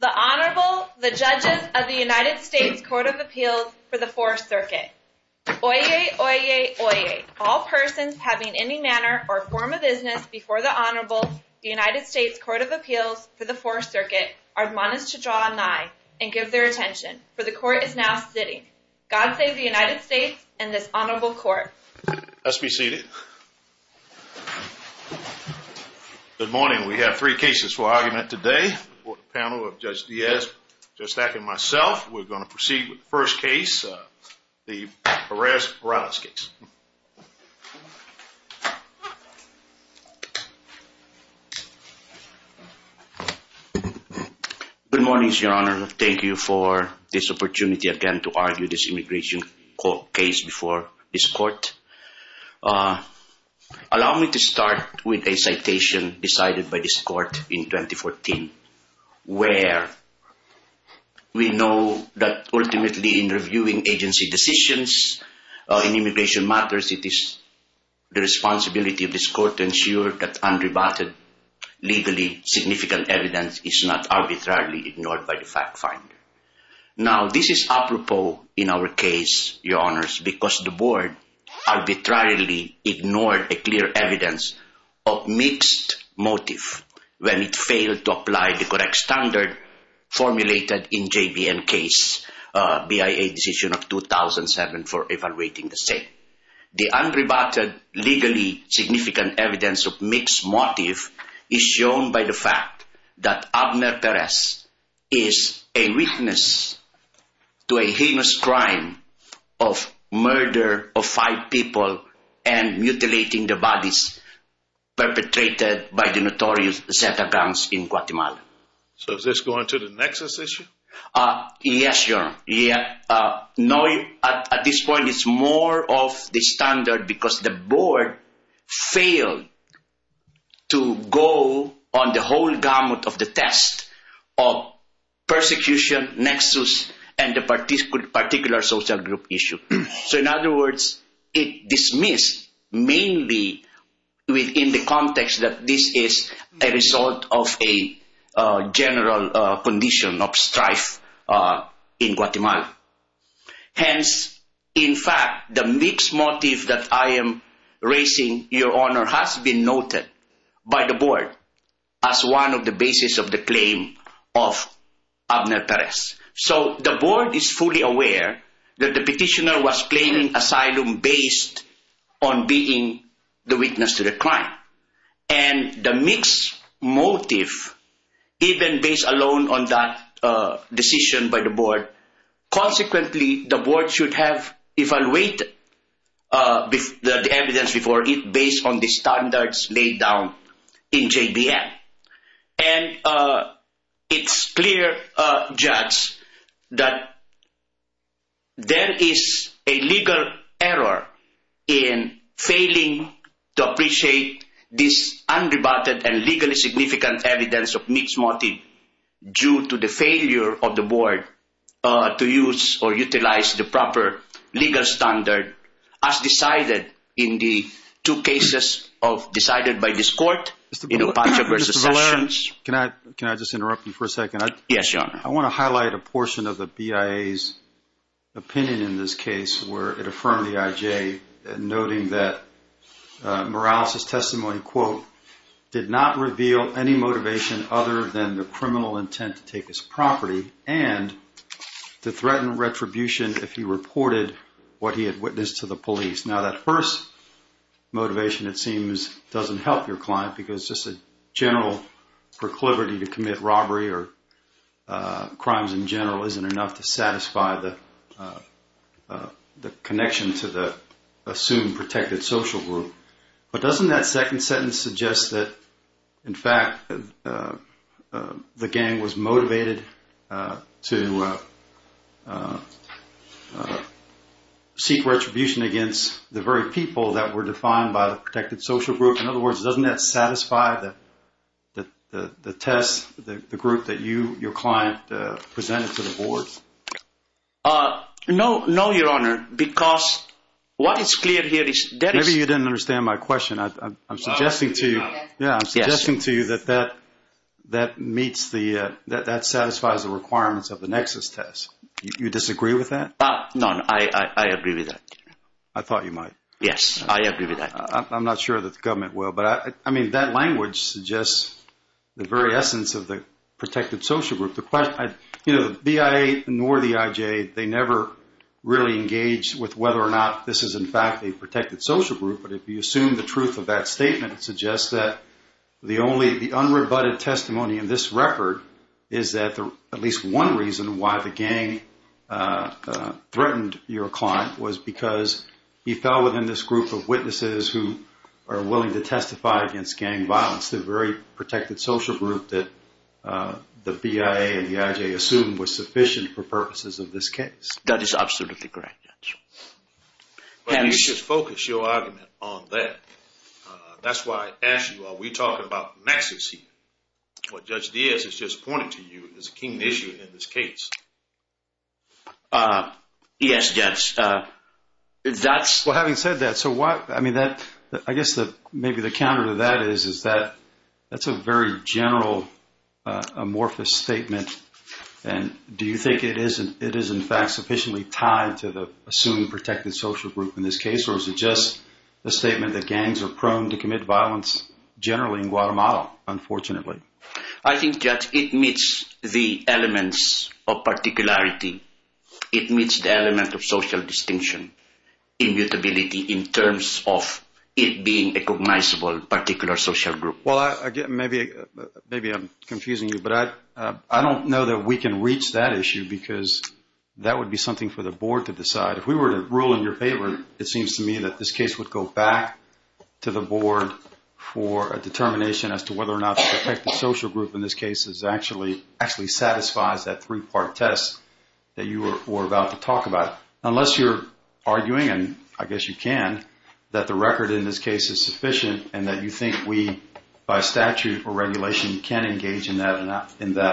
The Honorable, the Judges of the United States Court of Appeals for the Fourth Circuit. Oyez, oyez, oyez, all persons having any manner or form of business before the Honorable, the United States Court of Appeals for the Fourth Circuit, are admonished to draw nigh and give their attention, for the Court is now sitting. God save the United States and this Honorable Court. Let's be seated. Good morning. We have three cases for argument today. The panel of Judge Diaz, Judge Stack, and myself. We're going to proceed with the first case, the Perez-Morales case. Good morning, Your Honor. Thank you for this opportunity again to argue this immigration case before this Court. Allow me to start with a citation decided by this Court in 2014, where we know that ultimately in reviewing agency decisions in immigration matters, it is the responsibility of this Court to ensure that unrebutted, legally significant evidence is not arbitrarily ignored by the fact finder. Now, this is apropos in our case, Your Honors, because the Board arbitrarily ignored a clear evidence of mixed motive when it failed to apply the correct standard formulated in JVM case, BIA decision of 2007 for evaluating the state. The unrebutted, legally significant evidence of mixed motive is shown by the fact that Abner Perez is a witness to a heinous crime of murder of five people and mutilating the bodies perpetrated by the notorious Zeta gangs in Guatemala. So is this going to the nexus issue? Yes, Your Honor. At this point, it's more of the standard because the Board failed to go on the whole gamut of the test of persecution, nexus, and the particular social group issue. So in other words, it dismissed mainly within the context that this is a result of a general condition of strife in Guatemala. Hence, in fact, the mixed motive that I am raising, Your Honor, has been noted by the Board as one of the basis of the claim of Abner Perez. So the Board is fully aware that the petitioner was claiming asylum based on being the witness to the crime. And the mixed motive, even based alone on that decision by the Board, consequently, the Board should have evaluated the evidence before it based on the standards laid down in JVM. And it's clear, Judge, that there is a legal error in failing to appreciate this unrebutted and legally significant evidence of mixed motive due to the failure of the Board to use or utilize the proper legal standard as decided in the two cases decided by this Court, in a bunch of recessions. Mr. Valera, can I just interrupt you for a second? Yes, Your Honor. I want to highlight a portion of the BIA's opinion in this case where it affirmed the IJ, noting that Morales' testimony, quote, did not reveal any motivation other than the criminal intent to take his property and to threaten retribution if he reported what he had witnessed to the police. Now, that first motivation, it seems, doesn't help your client because just a general proclivity to commit robbery or crimes in general isn't enough to satisfy the connection to the assumed protected social group. But doesn't that second sentence suggest that, in fact, the gang was motivated to seek retribution against the very people that were defined by the protected social group? In other words, doesn't that satisfy the test, the group that you, your client, presented to the Board? No, Your Honor, because what is clear here is that… Maybe you didn't understand my question. I'm suggesting to you that that meets the, that satisfies the requirements of the Nexus test. You disagree with that? No, I agree with that. I thought you might. Yes, I agree with that. I'm not sure that the government will. But, I mean, that language suggests the very essence of the protected social group. You know, the BIA nor the IJ, they never really engaged with whether or not this is, in fact, a protected social group. But if you assume the truth of that statement, it suggests that the only, the unrebutted testimony in this record is that at least one reason why the gang threatened your client was because he fell within this group of witnesses who are willing to testify against gang violence, the very protected social group that the BIA and the IJ assumed was sufficient for purposes of this case. That is absolutely correct, Judge. But you should focus your argument on that. That's why I asked you, are we talking about Nexus here? What Judge Diaz has just pointed to you is a keen issue in this case. Yes, Judge. That's… Well, having said that, so why, I mean, that, I guess that maybe the counter to that is that that's a very general amorphous statement. And do you think it is, in fact, sufficiently tied to the assumed protected social group in this case? Or is it just a statement that gangs are prone to commit violence generally in Guatemala, unfortunately? I think, Judge, it meets the elements of particularity. It meets the element of social distinction, immutability, in terms of it being a cognizable particular social group. Well, again, maybe I'm confusing you, but I don't know that we can reach that issue because that would be something for the Board to decide. If we were to rule in your favor, it seems to me that this case would go back to the Board for a determination as to whether or not the protected social group in this case actually satisfies that three-part test that you were about to talk about. Unless you're arguing, and I guess you can, that the record in this case is sufficient and that you think we, by statute or regulation, can engage in that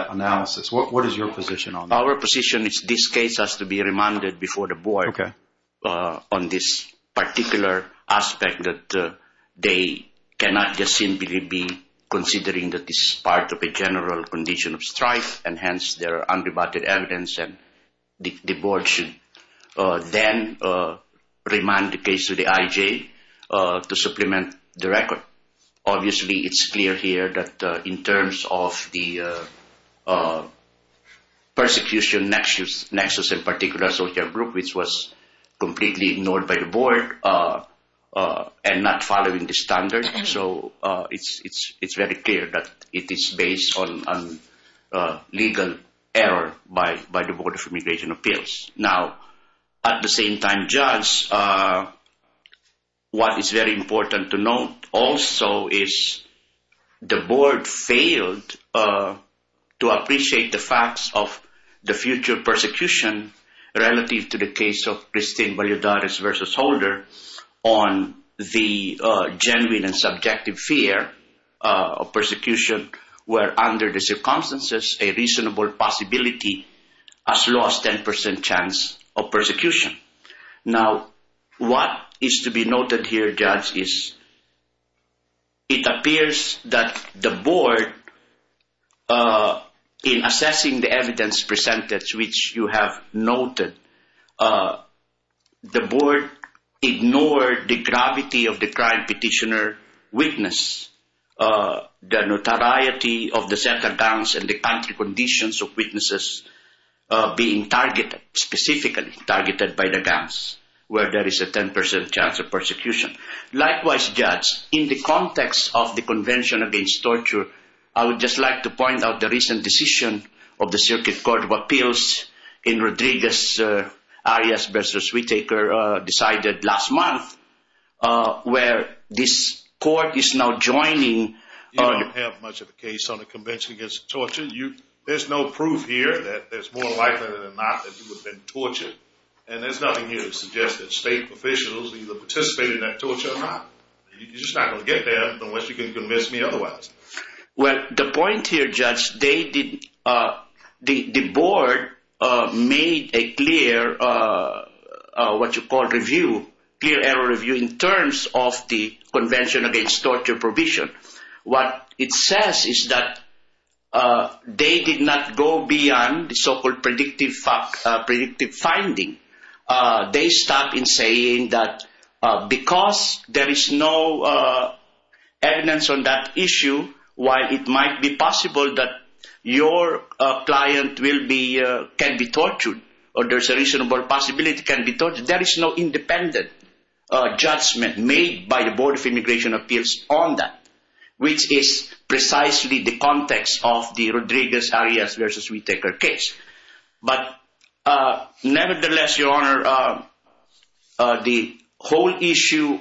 analysis. What is your position on that? Our position is this case has to be remanded before the Board on this particular aspect that they cannot just simply be considering that this is part of a general condition of strife, and hence there are undebatted evidence, and the Board should then remand the case to the IJ to supplement the record. Obviously, it's clear here that in terms of the persecution nexus in particular social group, which was completely ignored by the Board and not following the standards, so it's very clear that it is based on legal error by the Board of Immigration Appeals. Now, at the same time, Judge, what is very important to note also is the Board failed to appreciate the facts of the future persecution relative to the case of Christine Valladares v. Holder on the genuine and subjective fear of persecution where, under the circumstances, a reasonable possibility has lost 10% chances. Now, what is to be noted here, Judge, is it appears that the Board, in assessing the evidence presented, which you have noted, the Board ignored the gravity of the crime petitioner witness, the notoriety of the center guns and the country conditions of witnesses being targeted specifically. Targeted by the guns, where there is a 10% chance of persecution. Likewise, Judge, in the context of the Convention Against Torture, I would just like to point out the recent decision of the Circuit Court of Appeals in Rodriguez-Arias v. Whittaker decided last month where this court is now joining. You don't have much of a case on the Convention Against Torture. There's no proof here that it's more likely than not that you would have been tortured, and there's nothing here to suggest that state officials either participated in that torture or not. You're just not going to get there unless you can convince me otherwise. Well, the point here, Judge, the Board made a clear, what you call, review, clear error review in terms of the Convention Against Torture provision. What it says is that they did not go beyond the so-called predictive finding. They stopped in saying that because there is no evidence on that issue, while it might be possible that your client can be tortured or there's a reasonable possibility can be tortured, but there is no independent judgment made by the Board of Immigration Appeals on that, which is precisely the context of the Rodriguez-Arias v. Whittaker case. But nevertheless, Your Honor, the whole issue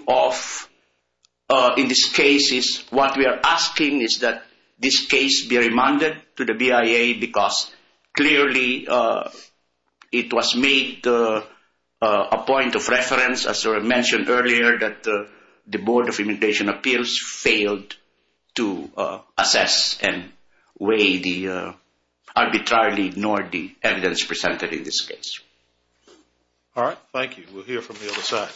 in this case is what we are asking is that this case be remanded to the BIA because clearly it was made a point of reference, as mentioned earlier, that the Board of Immigration Appeals failed to assess and weigh the, arbitrarily ignore the evidence presented in this case. All right. Thank you. We'll hear from the other side.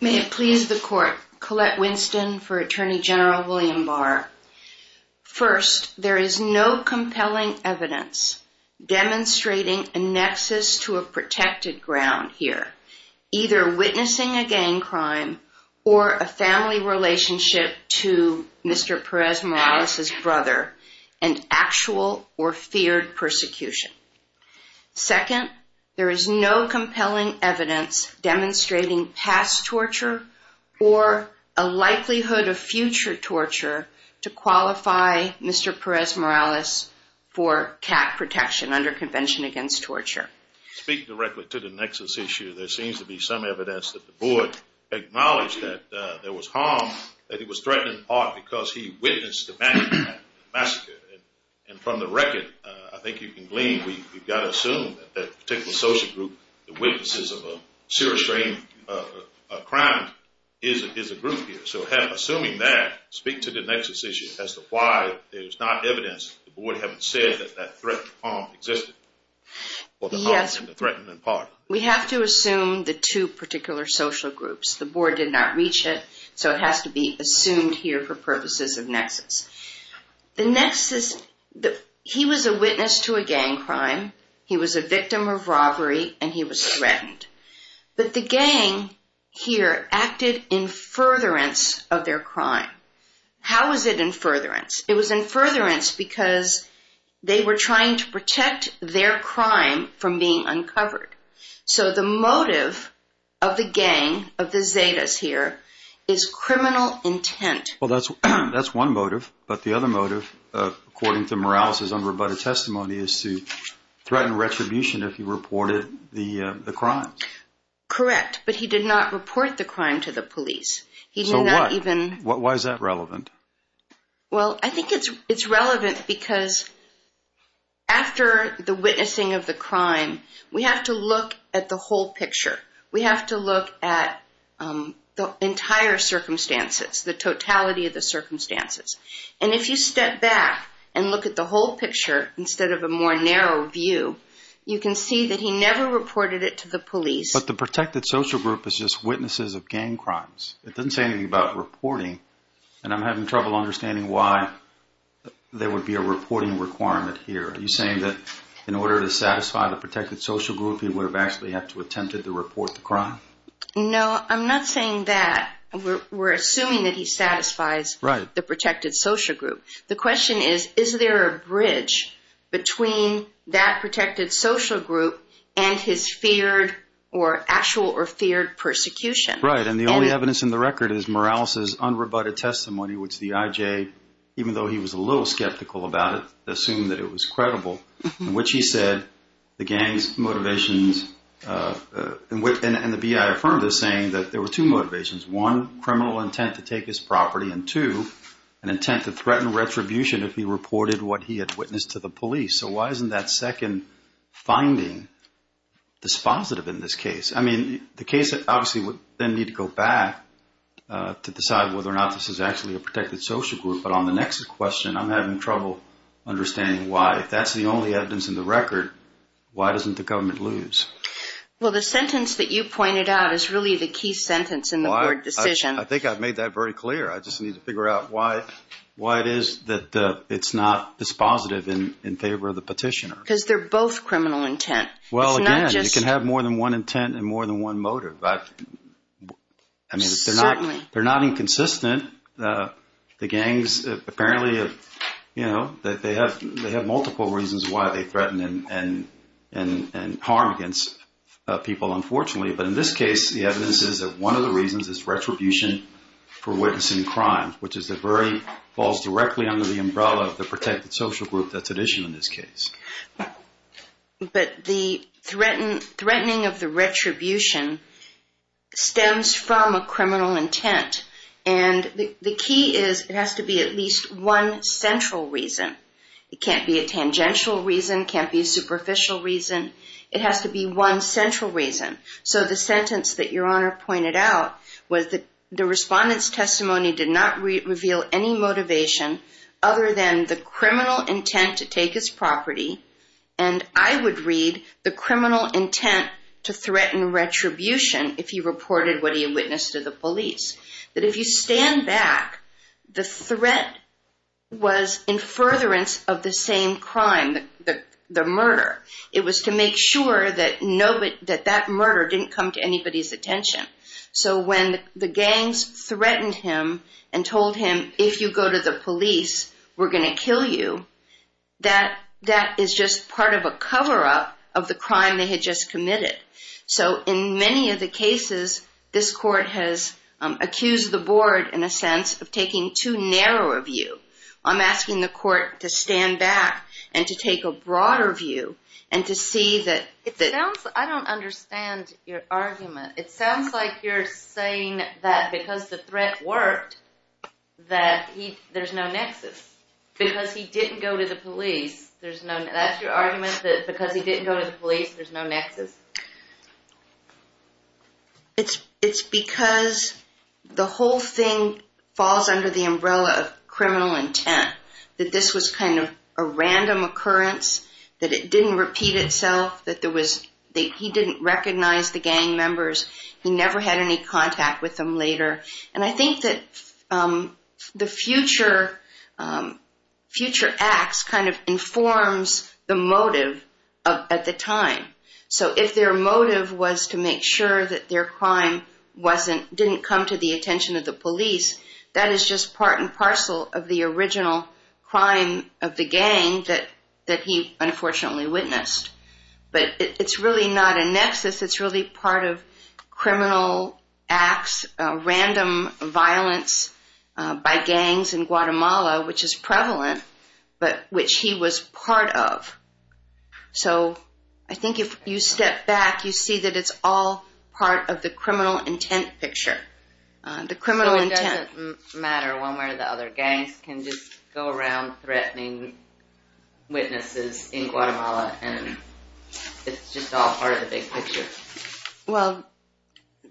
May it please the Court. Colette Winston for Attorney General William Barr. First, there is no compelling evidence demonstrating a nexus to a protected ground here, either witnessing a gang crime or a family relationship to Mr. Perez-Morales' brother and actual or feared persecution. Second, there is no compelling evidence demonstrating past torture or a likelihood of future torture to qualify Mr. Perez-Morales for CAT protection under Convention Against Torture. Speak directly to the nexus issue. There seems to be some evidence that the Board acknowledged that there was harm, that he was threatened in part because he witnessed the massacre. And from the record, I think you can glean, we've got to assume that that particular social group, the witnesses of a serious crime is a group here. So assuming that, speak to the nexus issue as to why there's not evidence that the Board haven't said that that threat of harm existed. We have to assume the two particular social groups. The Board did not reach it, so it has to be assumed here for purposes of nexus. The nexus, he was a witness to a gang crime. He was a victim of robbery and he was threatened. But the gang here acted in furtherance of their crime. How was it in furtherance? It was in furtherance because they were trying to protect their crime from being uncovered. So the motive of the gang, of the Zetas here, is criminal intent. Well, that's one motive, but the other motive, according to Morales' unrebutted testimony, is to threaten retribution if he reported the crime. Correct, but he did not report the crime to the police. So why is that relevant? Well, I think it's relevant because after the witnessing of the crime, we have to look at the whole picture. We have to look at the entire circumstances, the totality of the circumstances. And if you step back and look at the whole picture instead of a more narrow view, you can see that he never reported it to the police. But the protected social group is just witnesses of gang crimes. It doesn't say anything about reporting. And I'm having trouble understanding why there would be a reporting requirement here. Are you saying that in order to satisfy the protected social group, he would have actually had to attempt to report the crime? No, I'm not saying that. We're assuming that he satisfies the protected social group. The question is, is there a bridge between that protected social group and his feared or actual or feared persecution? Right, and the only evidence in the record is Morales' unrebutted testimony, which the IJ, even though he was a little skeptical about it, assumed that it was credible. In which he said the gang's motivations, and the BI affirmed this, saying that there were two motivations. One, criminal intent to take his property, and two, an intent to threaten retribution if he reported what he had witnessed to the police. So why isn't that second finding dispositive in this case? I mean, the case obviously would then need to go back to decide whether or not this is actually a protected social group. But on the next question, I'm having trouble understanding why. If that's the only evidence in the record, why doesn't the government lose? Well, the sentence that you pointed out is really the key sentence in the board decision. I think I've made that very clear. I just need to figure out why it is that it's not dispositive in favor of the petitioner. Because they're both criminal intent. Well, again, you can have more than one intent and more than one motive. Certainly. They're not inconsistent. The gangs apparently have multiple reasons why they threaten and harm against people, unfortunately. But in this case, the evidence is that one of the reasons is retribution for witnessing crime, which falls directly under the umbrella of the protected social group that's at issue in this case. But the threatening of the retribution stems from a criminal intent. And the key is it has to be at least one central reason. It can't be a tangential reason. It can't be a superficial reason. It has to be one central reason. So the sentence that Your Honor pointed out was that the respondent's testimony did not reveal any motivation other than the criminal intent to take his property. And I would read the criminal intent to threaten retribution if he reported what he witnessed to the police. That if you stand back, the threat was in furtherance of the same crime, the murder. It was to make sure that that murder didn't come to anybody's attention. So when the gangs threatened him and told him, if you go to the police, we're going to kill you, that is just part of a cover-up of the crime they had just committed. So in many of the cases, this court has accused the board, in a sense, of taking too narrow a view. I'm asking the court to stand back and to take a broader view and to see that... It sounds... I don't understand your argument. It sounds like you're saying that because the threat worked, that there's no nexus. Because he didn't go to the police, there's no... That's your argument, that because he didn't go to the police, there's no nexus? It's because the whole thing falls under the umbrella of criminal intent. That this was kind of a random occurrence, that it didn't repeat itself, that he didn't recognize the gang members, he never had any contact with them later. And I think that the future acts kind of informs the motive at the time. So if their motive was to make sure that their crime didn't come to the attention of the police, that is just part and parcel of the original crime of the gang that he unfortunately witnessed. But it's really not a nexus, it's really part of criminal acts, random violence by gangs in Guatemala, which is prevalent, but which he was part of. So I think if you step back, you see that it's all part of the criminal intent picture. So it doesn't matter one way or the other, gangs can just go around threatening witnesses in Guatemala, and it's just all part of the big picture. Well,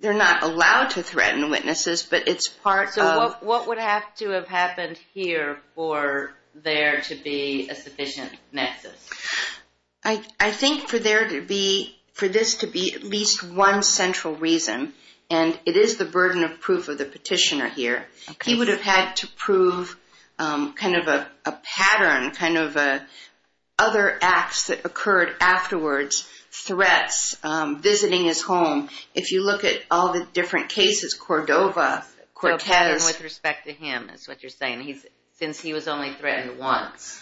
they're not allowed to threaten witnesses, but it's part of... So what would have to have happened here for there to be a sufficient nexus? I think for this to be at least one central reason, and it is the burden of proof of the petitioner here, he would have had to prove kind of a pattern, kind of other acts that occurred afterwards, threats, visiting his home. If you look at all the different cases, Cordova, Cortez... With respect to him, is what you're saying, since he was only threatened once.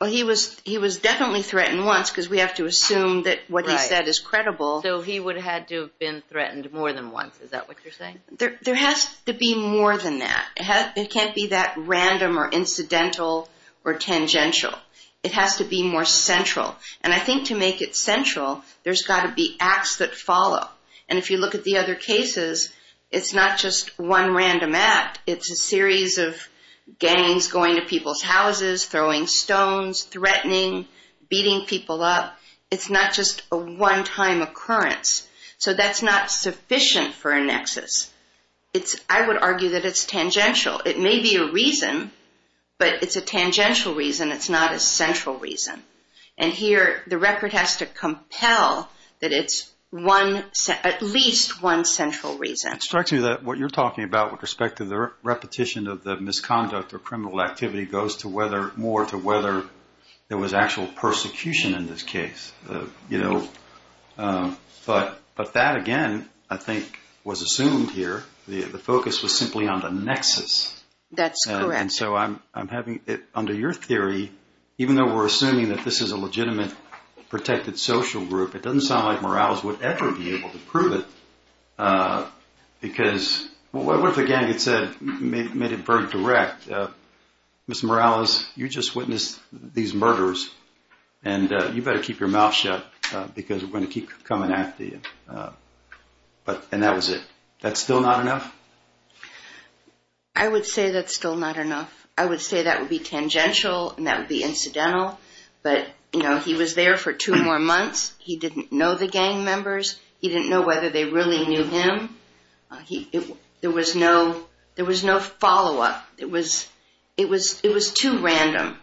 Well, he was definitely threatened once, because we have to assume that what he said is credible. So he would have had to have been threatened more than once. Is that what you're saying? There has to be more than that. It can't be that random or incidental or tangential. It has to be more central. And I think to make it central, there's got to be acts that follow. And if you look at the other cases, it's not just one random act. It's a series of gangs going to people's houses, throwing stones, threatening, beating people up. It's not just a one-time occurrence. So that's not sufficient for a nexus. I would argue that it's tangential. It may be a reason, but it's a tangential reason. It's not a central reason. And here, the record has to compel that it's at least one central reason. It strikes me that what you're talking about with respect to the repetition of the misconduct or criminal activity goes more to whether there was actual persecution in this case. But that, again, I think was assumed here. The focus was simply on the nexus. That's correct. And so under your theory, even though we're assuming that this is a legitimate protected social group, it doesn't sound like Morales would ever be able to prove it. Because what if a gang had said, made it very direct, Ms. Morales, you just witnessed these murders, and you better keep your mouth shut because we're going to keep coming after you. And that was it. That's still not enough? I would say that's still not enough. I would say that would be tangential, and that would be incidental. But he was there for two more months. He didn't know the gang members. He didn't know whether they really knew him. There was no follow-up. It was too random.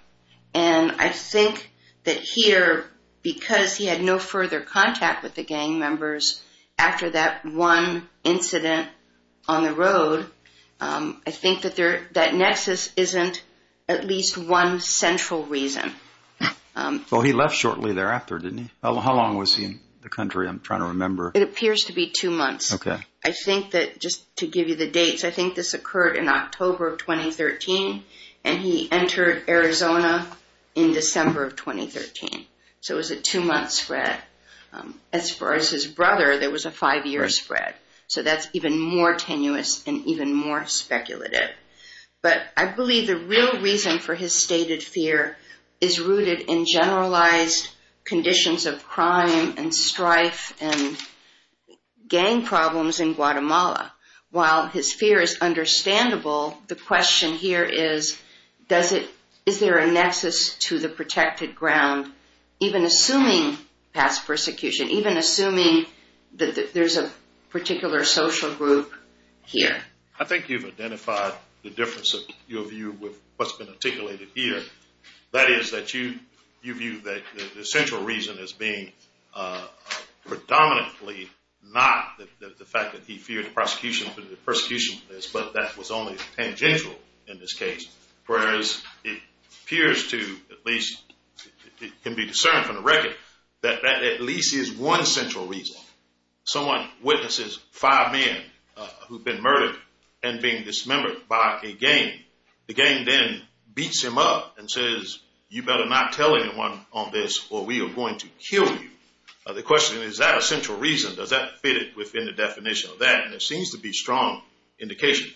And I think that here, because he had no further contact with the gang members after that one incident on the road, I think that that nexus isn't at least one central reason. Well, he left shortly thereafter, didn't he? How long was he in the country? I'm trying to remember. It appears to be two months. I think that just to give you the dates, I think this occurred in October of 2013, and he entered Arizona in December of 2013. So it was a two-month spread. As far as his brother, there was a five-year spread. So that's even more tenuous and even more speculative. But I believe the real reason for his stated fear is rooted in generalized conditions of crime and strife and gang problems in Guatemala. While his fear is understandable, the question here is, is there a nexus to the protected ground, even assuming past persecution, even assuming that there's a particular social group here? I think you've identified the difference of your view with what's been articulated here. That is that you view the central reason as being predominantly not the fact that he feared the prosecution for this, but that was only tangential in this case. Whereas it appears to at least, it can be discerned from the record, that that at least is one central reason. Suppose someone witnesses five men who've been murdered and being dismembered by a gang. The gang then beats him up and says, you better not tell anyone on this or we are going to kill you. The question is, is that a central reason? Does that fit within the definition of that? And there seems to be strong indication.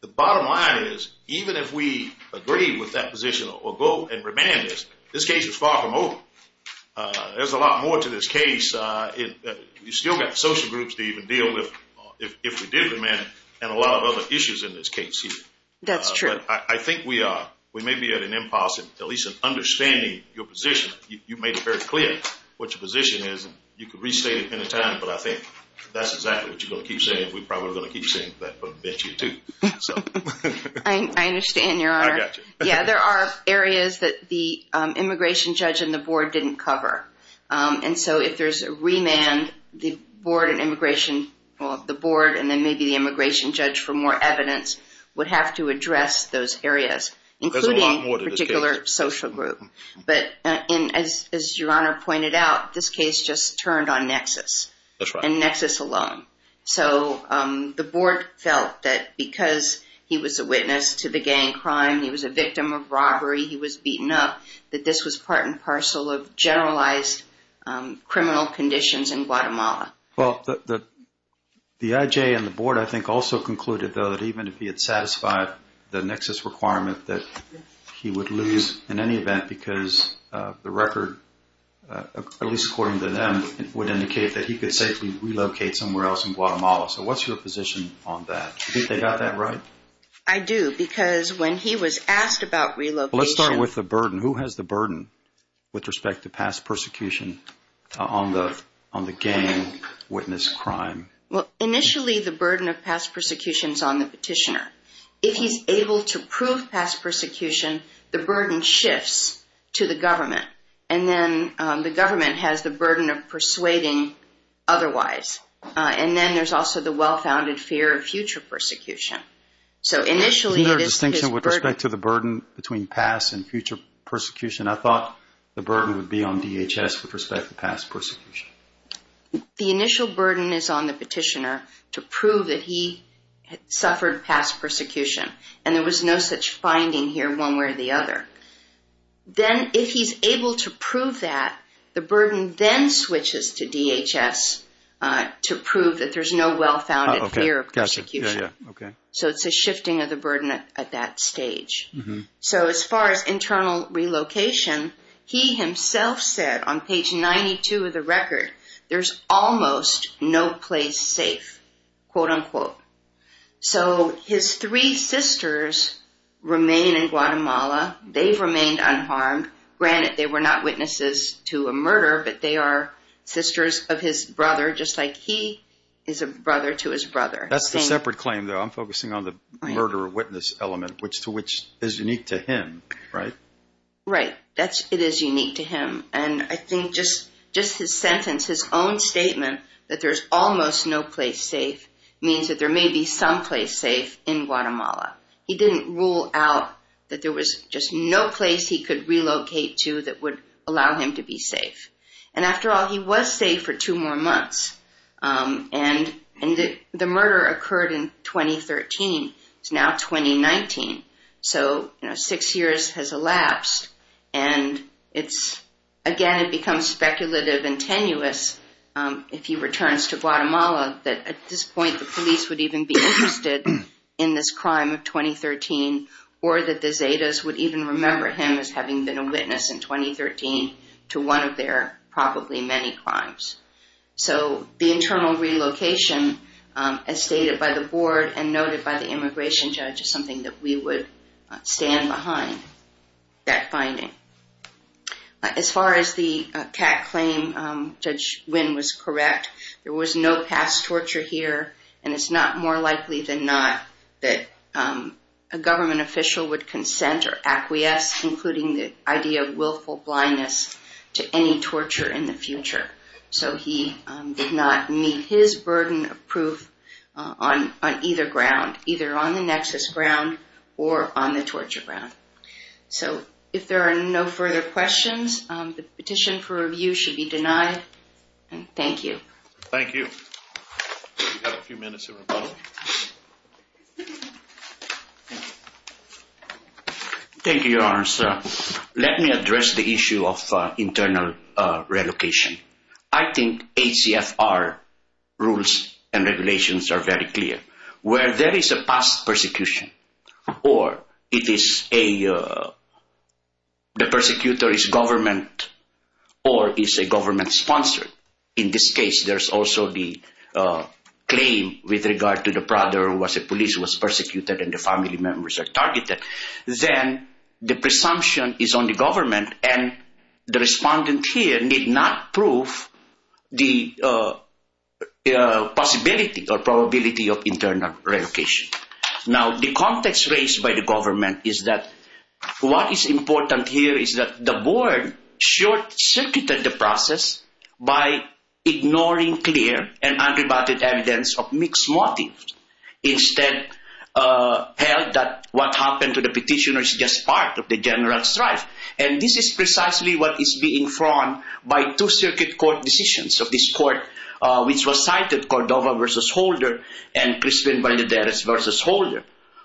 The bottom line is, even if we agree with that position or go and remand this, this case is far from over. There's a lot more to this case. You've still got social groups to even deal with if we do remand, and a lot of other issues in this case here. That's true. I think we may be at an impasse in at least understanding your position. You've made it very clear what your position is. You could restate it at any time, but I think that's exactly what you're going to keep saying. We're probably going to keep saying that from the bench here too. I understand, Your Honor. Yeah, there are areas that the immigration judge and the board didn't cover. And so if there's a remand, the board and immigration, well, the board and then maybe the immigration judge for more evidence would have to address those areas, including a particular social group. But as Your Honor pointed out, this case just turned on nexus. That's right. And nexus alone. So the board felt that because he was a witness to the gang crime, he was a victim of robbery, he was beaten up, that this was part and parcel of generalized criminal conditions in Guatemala. Well, the IJ and the board, I think, also concluded, though, that even if he had satisfied the nexus requirement, that he would lose in any event because the record, at least according to them, would indicate that he could safely relocate somewhere else in Guatemala. So what's your position on that? Do you think they got that right? I do, because when he was asked about relocation... What is the burden with respect to past persecution on the gang witness crime? Well, initially, the burden of past persecution is on the petitioner. If he's able to prove past persecution, the burden shifts to the government. And then the government has the burden of persuading otherwise. And then there's also the well-founded fear of future persecution. So initially... With respect to the burden between past and future persecution, I thought the burden would be on DHS with respect to past persecution. The initial burden is on the petitioner to prove that he suffered past persecution. And there was no such finding here one way or the other. Then, if he's able to prove that, the burden then switches to DHS to prove that there's no well-founded fear of persecution. So it's a shifting of the burden at that stage. So as far as internal relocation, he himself said on page 92 of the record, there's almost no place safe, quote-unquote. So his three sisters remain in Guatemala. They've remained unharmed. Granted, they were not witnesses to a murder, but they are sisters of his brother, just like he is a brother to his brother. That's a separate claim, though. I'm focusing on the murderer-witness element, which is unique to him, right? Right. It is unique to him. And I think just his sentence, his own statement, that there's almost no place safe, means that there may be some place safe in Guatemala. He didn't rule out that there was just no place he could relocate to that would allow him to be safe. And after all, he was safe for two more months. And the murder occurred in 2013. It's now 2019. So six years has elapsed. And again, it becomes speculative and tenuous if he returns to Guatemala, that at this point the police would even be interested in this crime of 2013, or that the Zetas would even remember him as having been a witness in 2013 to one of their probably many crimes. So the internal relocation, as stated by the board and noted by the immigration judge, is something that we would stand behind that finding. As far as the CAC claim, Judge Nguyen was correct. There was no past torture here. And it's not more likely than not that a government official would consent or acquiesce, including the idea of willful blindness, to any torture in the future. And so he did not meet his burden of proof on either ground, either on the nexus ground or on the torture ground. So if there are no further questions, the petition for review should be denied. And thank you. Thank you. We have a few minutes of rebuttal. Thank you, Your Honor. Let me address the issue of internal relocation. I think ACFR rules and regulations are very clear. Where there is a past persecution, or the persecutor is government, or is a government-sponsored. In this case, there's also the claim with regard to the brother who was a police, was persecuted, and the family members are targeted. Then the presumption is on the government, and the respondent here did not prove the possibility or probability of internal relocation. Now, the context raised by the government is that what is important here is that the board short-circuited the process by ignoring clear and unrebutted evidence of mixed motives. Instead, held that what happened to the petitioner is just part of the general strife. And this is precisely what is being frowned on by two circuit court decisions of this court, which was cited, Cordova versus Holder, and Crispin Valdez versus Holder,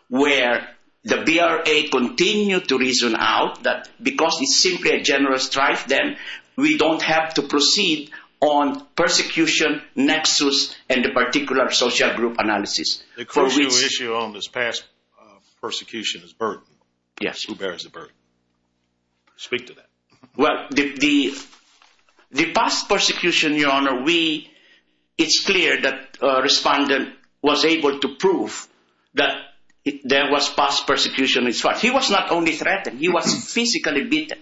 where the BRA continued to reason out that because it's simply a general strife, then we don't have to proceed on persecution, nexus, and the particular social group analysis. The current issue on this past persecution is burden. Who bears the burden? Speak to that. Well, the past persecution, Your Honor, it's clear that the respondent was able to prove that there was past persecution. He was not only threatened, he was physically beaten,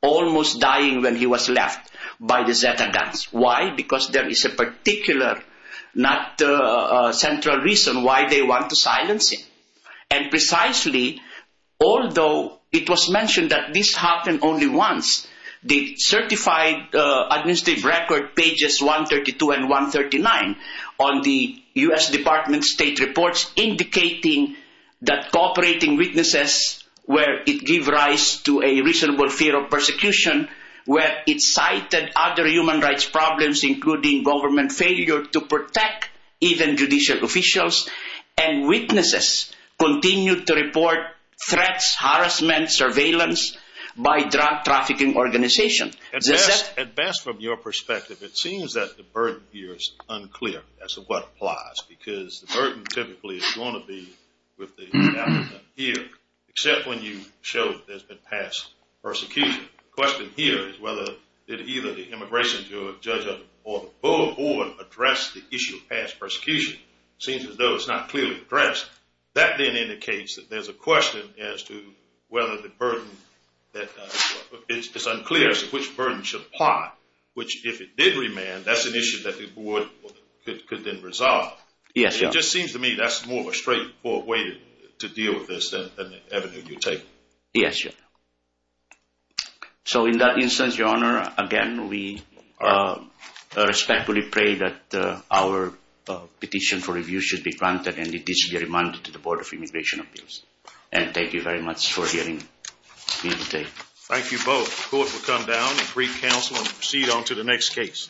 almost dying when he was left by the Zeta guns. Why? Because there is a particular, not central reason why they want to silence him. And precisely, although it was mentioned that this happened only once, the certified administrative record, pages 132 and 139 on the U.S. Department of State reports, indicating that cooperating witnesses where it give rise to a reasonable fear of persecution, where it cited other human rights problems, including government failure to protect even judicial officials, and witnesses continue to report threats, harassment, surveillance, by drug trafficking organizations. At best, from your perspective, it seems that the burden here is unclear, as to what applies, because the burden typically is going to be with the defendant here, except when you show that there's been past persecution. The question here is whether, did either the immigration judge or the board address the issue of past persecution? It seems as though it's not clearly addressed. That then indicates that there's a question as to whether the burden that, it's unclear as to which burden should apply, which if it did remand, that's an issue that the board could then resolve. It just seems to me that's more of a straightforward way to deal with this than the avenue you take. Yes, Your Honor. So in that instance, Your Honor, again, we respectfully pray that our petition for review should be granted and it should be remanded to the Board of Immigration Appeals. Thank you very much for giving me the day. Thank you both. Court will come down and brief counsel and proceed on to the next case.